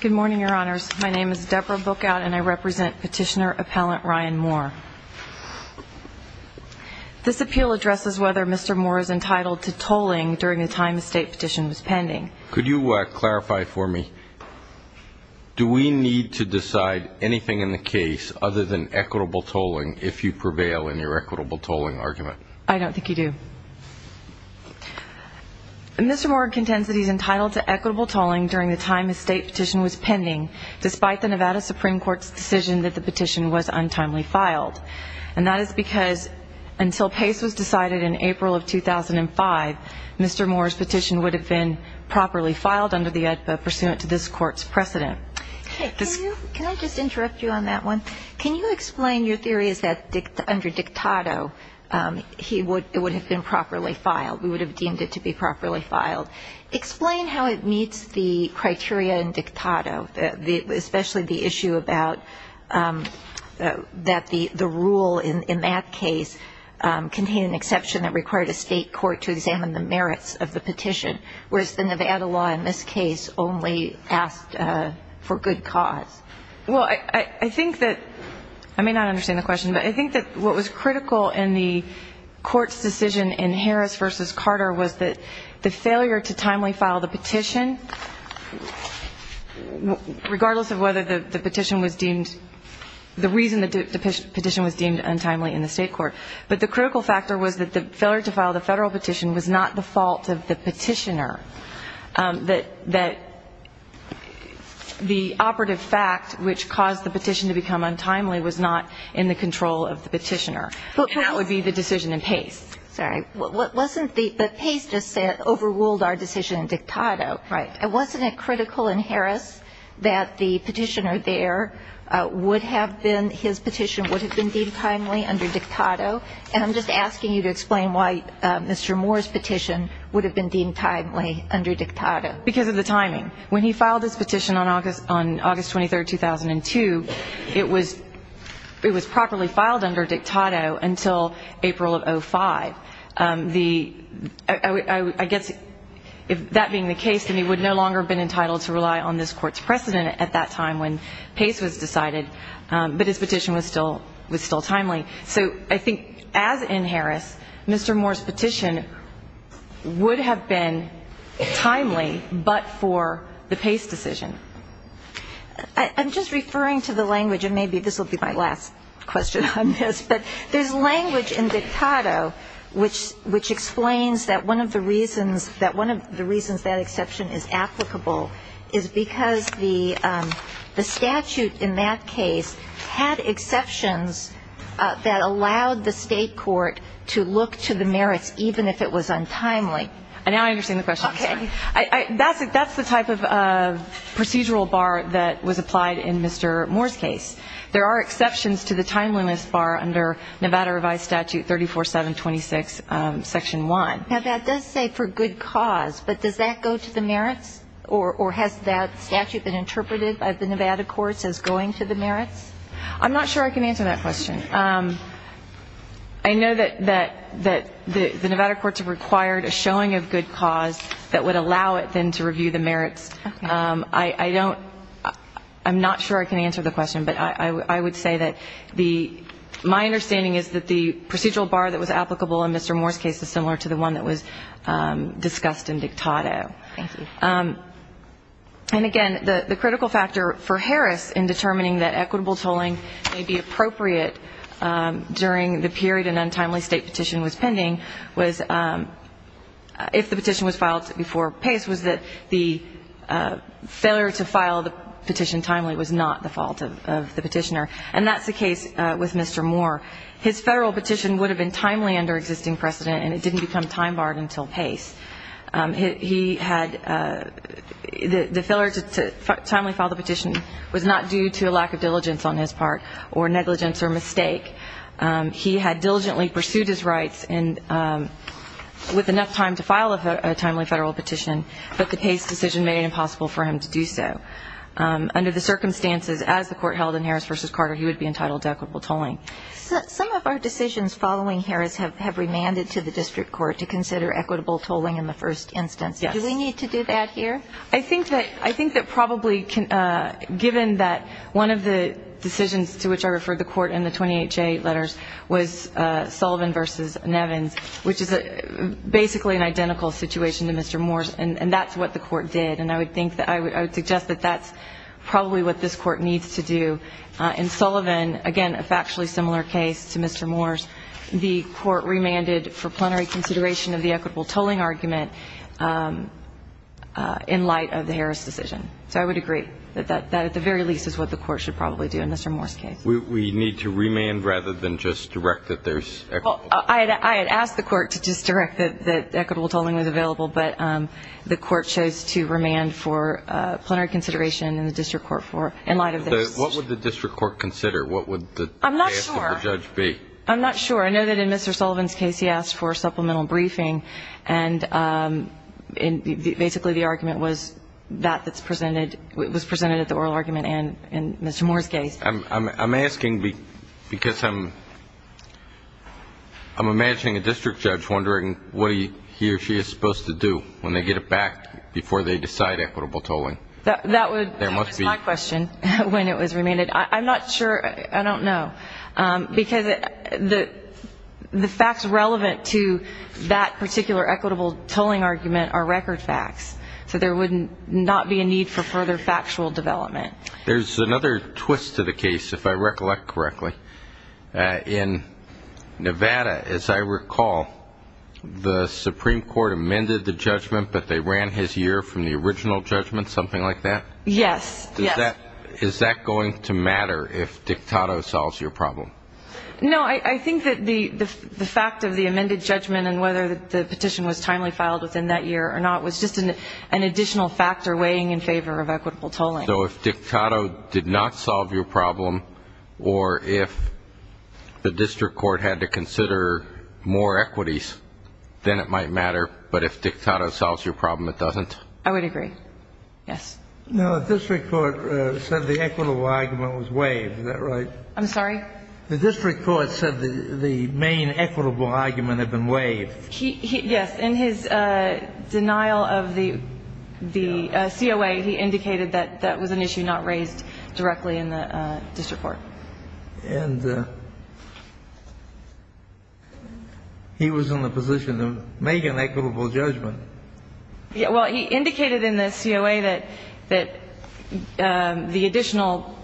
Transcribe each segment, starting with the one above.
Good morning, Your Honors. My name is Deborah Bookout and I represent Petitioner Appellant Ryan Moore. This appeal addresses whether Mr. Moore is entitled to tolling during the time the state petition was pending. Could you clarify for me, do we need to decide anything in the case other than equitable tolling if you prevail in your equitable tolling argument? I don't think you do. Mr. Moore contends that he is entitled to equitable tolling during the time the state petition was pending despite the Nevada Supreme Court's decision that the petition was untimely filed. And that is because until pace was decided in April of 2005, Mr. Moore's petition would have been properly filed under the AEDPA pursuant to this Court's precedent. Can I just interrupt you on that one? Can you explain your theories that under dictado it would have been properly filed? We would have deemed it to be properly filed. Explain how it meets the criteria in dictado, especially the issue about that the rule in that case contained an exception that required a state court to examine the merits of the petition, whereas the Nevada law in this case only asked for good cause. Well, I think that, I may not understand the question, but I think that what was critical in the Court's decision in Harris v. Carter was that the failure to timely file the petition, regardless of whether the petition was deemed, the reason the petition was deemed untimely in the state court, but the critical factor was that the failure to file the federal petition was not the fault of the petitioner, that the operative fact which caused the petition to become untimely was not in the control of the petitioner. And that would be the decision in Pace. Sorry. Wasn't the – but Pace just said, overruled our decision in dictado. Right. And wasn't it critical in Harris that the petitioner there would have been – his petition would have been deemed timely under dictado? And I'm just asking you to explain why Mr. Moore's petition would have been deemed timely under dictado. Because of the timing. When he filed his petition on August 23, 2002, it was properly filed under dictado until April of 2005. The – I guess if that being the case, then he would no longer have been entitled to rely on this Court's precedent at that time when Pace was decided. But his petition was still timely. So I think as in Harris, Mr. Moore's petition would have been timely but for the Pace decision. I'm just referring to the language – and maybe this will be my last question on this – but there's language in dictado which explains that one of the reasons that exception is applicable is because the statute in that case had exceptions that allowed the state court to look to the merits even if it was untimely. Now I understand the question. Okay. That's the type of procedural bar that was applied in Mr. Moore's case. There are exceptions to the timeliness bar under Nevada Revised Statute 34726, Section 1. Now that does say for good cause, but does that go to the merits or has that statute been interpreted by the Nevada courts as going to the merits? I'm not sure I can answer that question. I know that the Nevada courts required a showing of good cause that would allow it then to review the merits. I don't – I'm not sure I can answer the question, but I would say that the – my understanding is that the procedural bar that was applicable in Mr. Moore's case is similar to the one that was discussed in dictado. Thank you. And again, the critical factor for Harris in determining that equitable tolling may be appropriate during the period an untimely state petition was pending was if the petition was filed before Pace, Harris was that the failure to file the petition timely was not the fault of the petitioner. And that's the case with Mr. Moore. His federal petition would have been timely under existing precedent, and it didn't become time barred until Pace. He had – the failure to timely file the petition was not due to a lack of diligence on his part or negligence or mistake. He had diligently pursued his rights and with enough time to file a timely federal petition, but the Pace decision made it impossible for him to do so. Under the circumstances as the court held in Harris v. Carter, he would be entitled to equitable tolling. Some of our decisions following Harris have remanded to the district court to consider equitable tolling in the first instance. Yes. Do we need to do that here? I think that probably given that one of the decisions to which I referred the court in the 28J letters was Sullivan v. Nevins, which is basically an identical situation to Mr. Moore's, and that's what the court did. And I would suggest that that's probably what this court needs to do. In Sullivan, again, a factually similar case to Mr. Moore's, the court remanded for plenary consideration of the equitable tolling argument in light of the Harris decision. So I would agree that that at the very least is what the court should probably do in Mr. Moore's case. We need to remand rather than just direct that there's equitable. I had asked the court to just direct that equitable tolling was available, but the court chose to remand for plenary consideration in the district court for in light of this. What would the district court consider? What would the answer of the judge be? I'm not sure. I know that in Mr. Sullivan's case he asked for supplemental briefing, and basically the argument was that that was presented at the oral argument in Mr. Moore's case. I'm asking because I'm imagining a district judge wondering what he or she is supposed to do when they get it back before they decide equitable tolling. That was my question when it was remanded. I'm not sure. I don't know. Because the facts relevant to that particular equitable tolling argument are record facts, so there would not be a need for further factual development. There's another twist to the case, if I recollect correctly. In Nevada, as I recall, the Supreme Court amended the judgment, but they ran his year from the original judgment, something like that? Yes, yes. Is that going to matter if Dictato solves your problem? No. I think that the fact of the amended judgment and whether the petition was timely filed within that year or not was just an additional factor weighing in favor of equitable tolling. So if Dictato did not solve your problem or if the district court had to consider more equities, then it might matter. But if Dictato solves your problem, it doesn't? I would agree. Yes. No, the district court said the equitable argument was waived. Is that right? I'm sorry? The district court said the main equitable argument had been waived. Yes. In his denial of the COA, he indicated that that was an issue not raised directly in the district court. And he was in the position to make an equitable judgment. Well, he indicated in the COA that the additional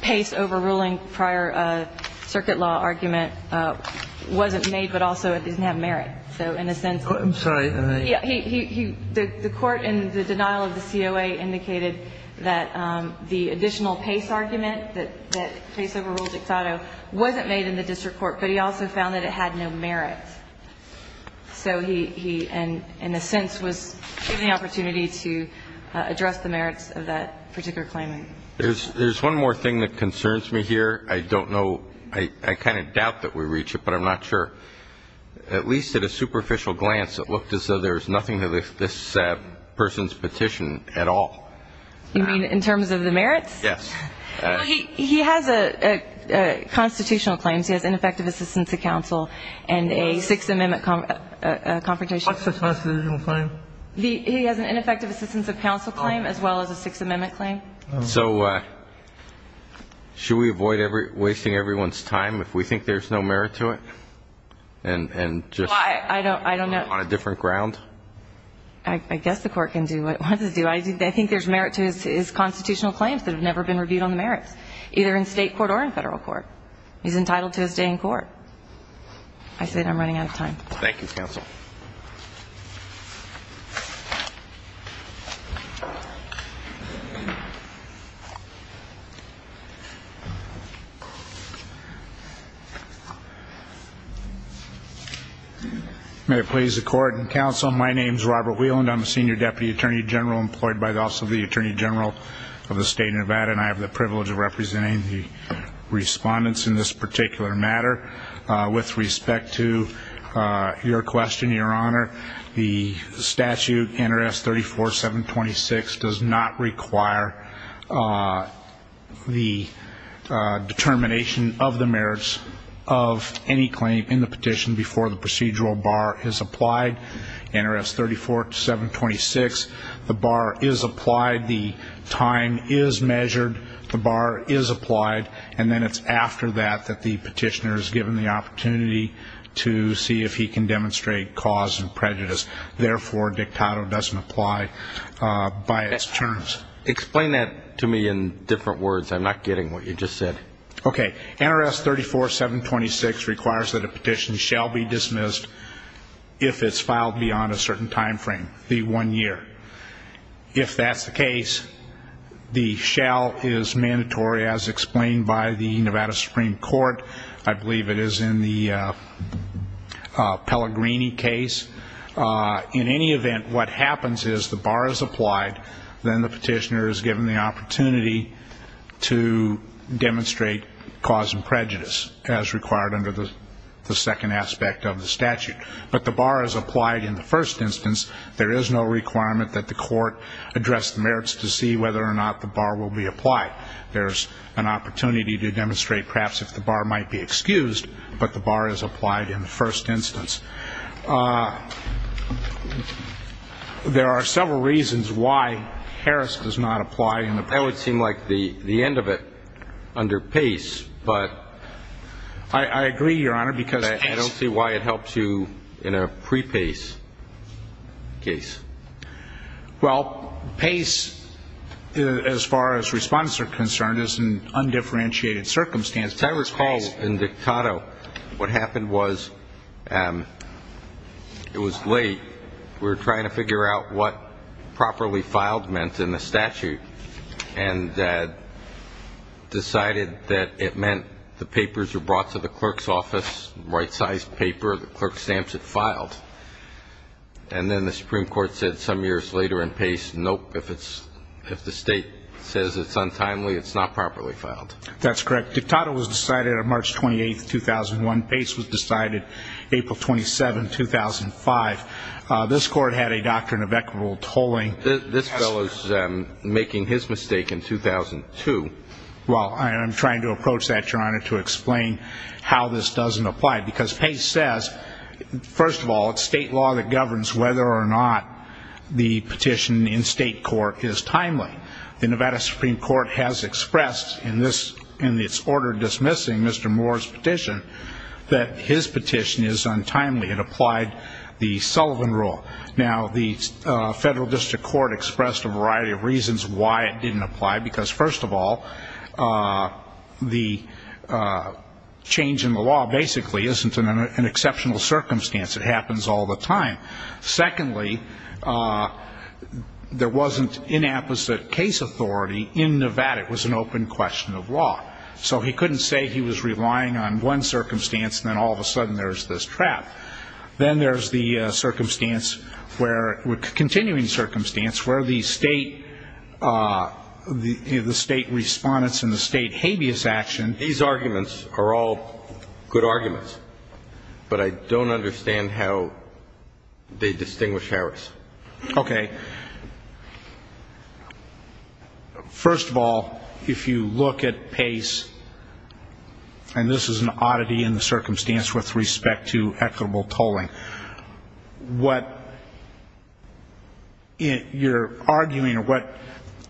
pace overruling prior circuit law argument wasn't made, but also it didn't have merit. So in a sense he the court in the denial of the COA indicated that the additional pace argument, that pace overruled Dictato, wasn't made in the district court, but he also found that it had no merit. So he, in a sense, was given the opportunity to address the merits of that particular claim. There's one more thing that concerns me here. I don't know. I kind of doubt that we reach it, but I'm not sure. At least at a superficial glance, it looked as though there was nothing to this person's petition at all. You mean in terms of the merits? Yes. Well, he has constitutional claims. He has ineffective assistance of counsel and a Sixth Amendment confrontation. What's the constitutional claim? He has an ineffective assistance of counsel claim as well as a Sixth Amendment claim. So should we avoid wasting everyone's time if we think there's no merit to it? And just on a different ground? I guess the court can do what it wants to do. I think there's merit to his constitutional claims that have never been reviewed on the merits, either in state court or in federal court. He's entitled to a stay in court. I said I'm running out of time. Thank you, counsel. May it please the Court and counsel, my name is Robert Wieland. I'm a senior deputy attorney general employed by the Office of the Attorney General of the State of Nevada, and I have the privilege of representing the respondents in this particular matter. With respect to your question, Your Honor, the statute, NRS 34726, does not require the determination of the merits of any claim in the petition before the procedural bar is applied. NRS 34726, the bar is applied. The time is measured. The bar is applied. And then it's after that that the petitioner is given the opportunity to see if he can demonstrate cause and prejudice. Therefore, dictato doesn't apply by its terms. Explain that to me in different words. I'm not getting what you just said. Okay. NRS 34726 requires that a petition shall be dismissed if it's filed beyond a certain time frame, the one year. If that's the case, the shall is mandatory as explained by the Nevada Supreme Court. I believe it is in the Pellegrini case. In any event, what happens is the bar is applied, then the petitioner is given the opportunity to demonstrate cause and prejudice, as required under the second aspect of the statute. But the bar is applied in the first instance. There is no requirement that the court address the merits to see whether or not the bar will be applied. There's an opportunity to demonstrate perhaps if the bar might be excused, but the bar is applied in the first instance. There are several reasons why Harris does not apply. That would seem like the end of it under Pace. But I agree, Your Honor, because I don't see why it helps you in a pre-Pace case. Well, Pace, as far as respondents are concerned, is in undifferentiated circumstances. I recall in Dictato what happened was it was late. We were trying to figure out what properly filed meant in the statute, and decided that it meant the papers were brought to the clerk's office, right-sized paper, the clerk stamps it filed. And then the Supreme Court said some years later in Pace, nope, if the state says it's untimely, it's not properly filed. That's correct. Dictato was decided on March 28, 2001. Pace was decided April 27, 2005. This Court had a doctrine of equitable tolling. This fellow is making his mistake in 2002. Well, I'm trying to approach that, Your Honor, to explain how this doesn't apply. Because Pace says, first of all, it's state law that governs whether or not the petition in state court is timely. The Nevada Supreme Court has expressed in its order dismissing Mr. Moore's petition that his petition is untimely. It applied the Sullivan Rule. Now, the Federal District Court expressed a variety of reasons why it didn't apply, because, first of all, the change in the law basically isn't an exceptional circumstance. It happens all the time. Secondly, there wasn't inapposite case authority in Nevada. It was an open question of law. So he couldn't say he was relying on one circumstance, and then all of a sudden there's this trap. Then there's the circumstance where, continuing circumstance, where the state, the state respondents and the state habeas action. These arguments are all good arguments, but I don't understand how they distinguish Harris. Okay. First of all, if you look at Pace, and this is an oddity in the circumstance with respect to equitable tolling, what you're arguing or what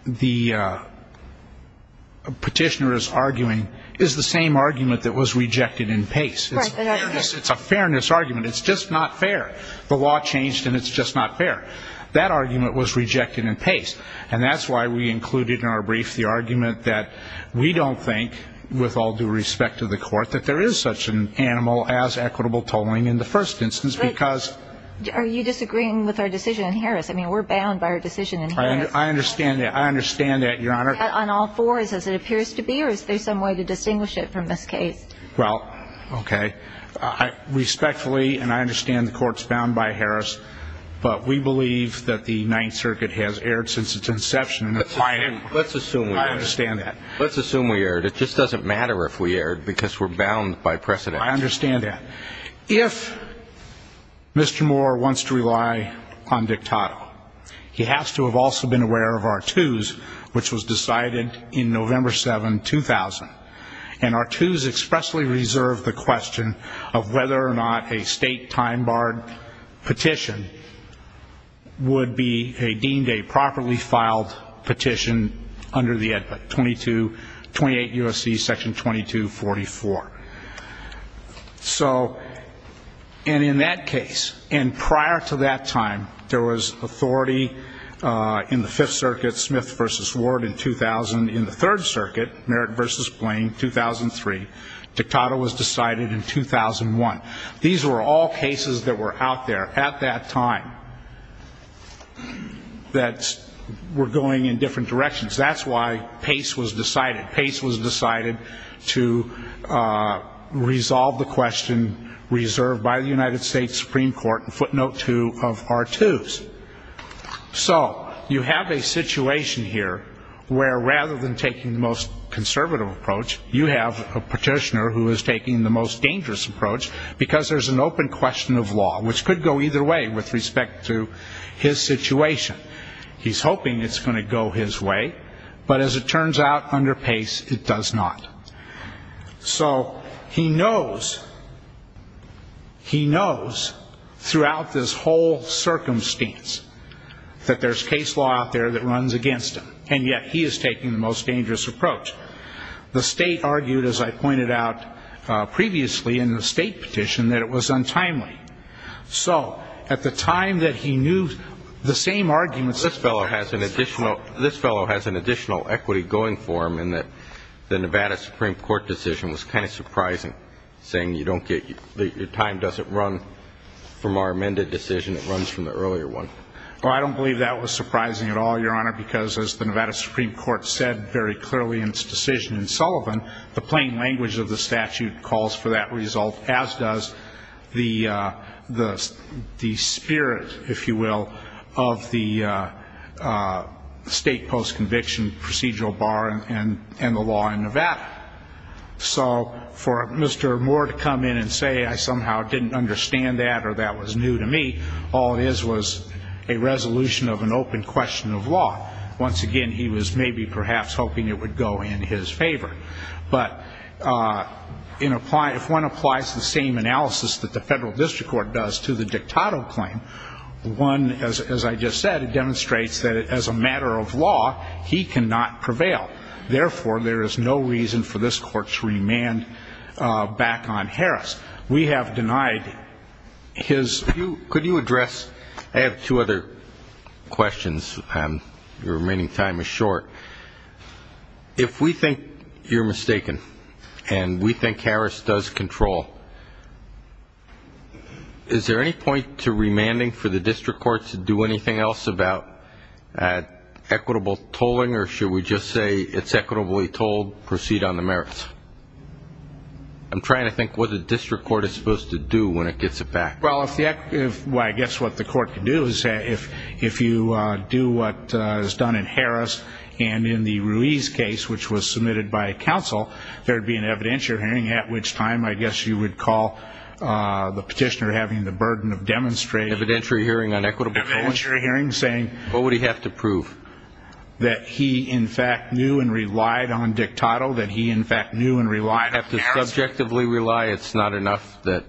the petitioner is arguing is the same argument that was rejected in Pace. It's a fairness argument. It's just not fair. The law changed, and it's just not fair. That argument was rejected in Pace, and that's why we included in our brief the argument that we don't think, with all due respect to the Court, that there is such an animal as equitable tolling in the first instance because Are you disagreeing with our decision in Harris? I mean, we're bound by our decision in Harris. I understand that. I understand that, Your Honor. On all fours as it appears to be, or is there some way to distinguish it from this case? Well, okay. Respectfully, and I understand the Court's bound by Harris, but we believe that the Ninth Circuit has erred since its inception. Let's assume we erred. I understand that. Let's assume we erred. It just doesn't matter if we erred because we're bound by precedent. I understand that. If Mr. Moore wants to rely on Dictato, he has to have also been aware of R2s, which was decided in November 7, 2000, and R2s expressly reserved the question of whether or not a state time-barred petition would be deemed a properly filed petition under the 28 U.S.C. Section 2244. And in that case, and prior to that time, there was authority in the Fifth Circuit, Smith v. Ward in 2000. In the Third Circuit, Merritt v. Blaine, 2003, Dictato was decided in 2001. These were all cases that were out there at that time that were going in different directions. That's why Pace was decided. Pace was decided to resolve the question reserved by the United States Supreme Court in footnote 2 of R2s. So you have a situation here where rather than taking the most conservative approach, you have a petitioner who is taking the most dangerous approach because there's an open question of law, which could go either way with respect to his situation. He's hoping it's going to go his way, but as it turns out, under Pace, it does not. So he knows throughout this whole circumstance that there's case law out there that runs against him, and yet he is taking the most dangerous approach. The state argued, as I pointed out previously in the state petition, that it was untimely. So at the time that he knew the same arguments, this fellow has an additional equity going for him in that the Nevada Supreme Court decision was kind of surprising, saying your time doesn't run from our amended decision, it runs from the earlier one. Well, I don't believe that was surprising at all, Your Honor, because as the Nevada Supreme Court said very clearly in its decision in Sullivan, the plain language of the statute calls for that result, as does the spirit, if you will, of the state post-conviction procedural bar and the law in Nevada. So for Mr. Moore to come in and say I somehow didn't understand that or that was new to me, all it is was a resolution of an open question of law. Once again, he was maybe perhaps hoping it would go in his favor. But if one applies the same analysis that the federal district court does to the dictato claim, one, as I just said, demonstrates that as a matter of law, he cannot prevail. Therefore, there is no reason for this court to remand back on Harris. We have denied his view. Could you address ñ I have two other questions. Your remaining time is short. If we think you're mistaken and we think Harris does control, is there any point to remanding for the district courts to do anything else about equitable tolling or should we just say it's equitably tolled, proceed on the merits? I'm trying to think what the district court is supposed to do when it gets it back. Well, I guess what the court can do is if you do what is done in Harris and in the Ruiz case, which was submitted by counsel, there would be an evidentiary hearing, at which time I guess you would call the petitioner having the burden of demonstrating. Evidentiary hearing on equitable tolling. Evidentiary hearing, saying. What would he have to prove? That he, in fact, knew and relied on Dictado, that he, in fact, knew and relied on Harris. You'd have to subjectively rely. It's not enough that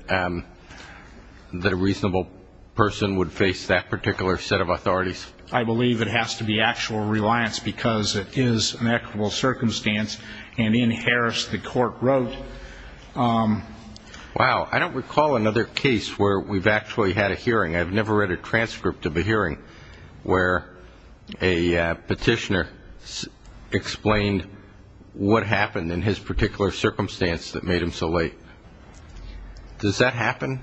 a reasonable person would face that particular set of authorities. I believe it has to be actual reliance because it is an equitable circumstance. And in Harris, the court wrote. Wow. I've never read a transcript of a hearing where a petitioner explained what happened in his particular circumstance that made him so late. Does that happen?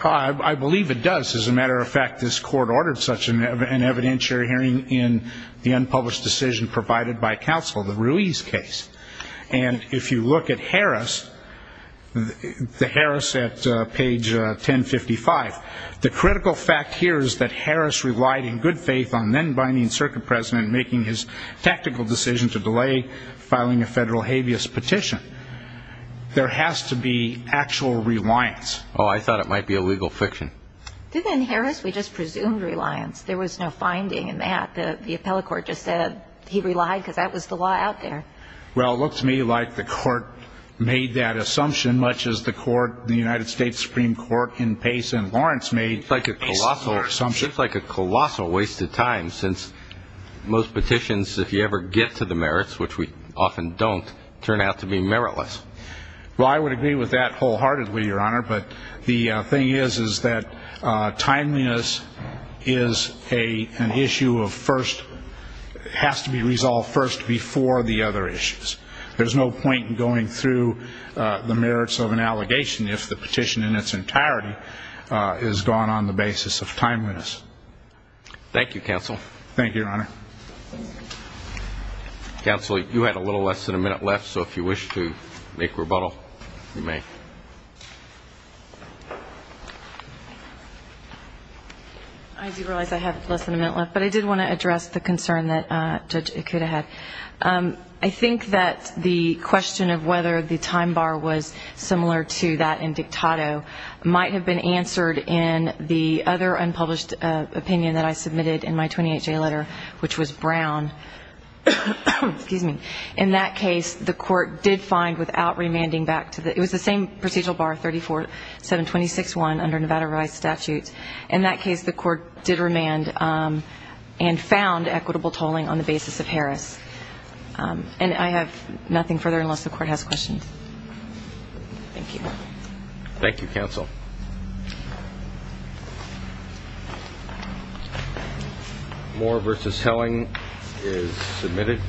I believe it does. As a matter of fact, this court ordered such an evidentiary hearing in the unpublished decision provided by counsel, the Ruiz case. And if you look at Harris, the Harris at page 1055, the critical fact here is that Harris relied in good faith on then-Biden circuit president making his tactical decision to delay filing a federal habeas petition. There has to be actual reliance. Oh, I thought it might be a legal fiction. Didn't in Harris we just presume reliance? There was no finding in that. The appellate court just said he relied because that was the law out there. Well, it looked to me like the court made that assumption, much as the United States Supreme Court in Pace and Lawrence made a similar assumption. It's like a colossal waste of time since most petitions, if you ever get to the merits, which we often don't, turn out to be meritless. Well, I would agree with that wholeheartedly, Your Honor. But the thing is, is that timeliness is an issue of first, has to be resolved first before the other issues. There's no point in going through the merits of an allegation if the petition in its entirety is gone on the basis of timeliness. Thank you, Your Honor. Counsel, you had a little less than a minute left, so if you wish to make rebuttal, you may. I do realize I have less than a minute left, but I did want to address the concern that Judge Ikeda had. I think that the question of whether the time bar was similar to that in Dictato might have been answered in the other unpublished opinion that I submitted in my 28-J letter, which was Brown. In that case, the Court did find, without remanding back to the – it was the same procedural bar, 34-726-1 under Nevada Rise statutes. In that case, the Court did remand and found equitable tolling on the basis of Harris. And I have nothing further unless the Court has questions. Thank you. Thank you, Counsel. Thank you. Moore v. Helling is submitted.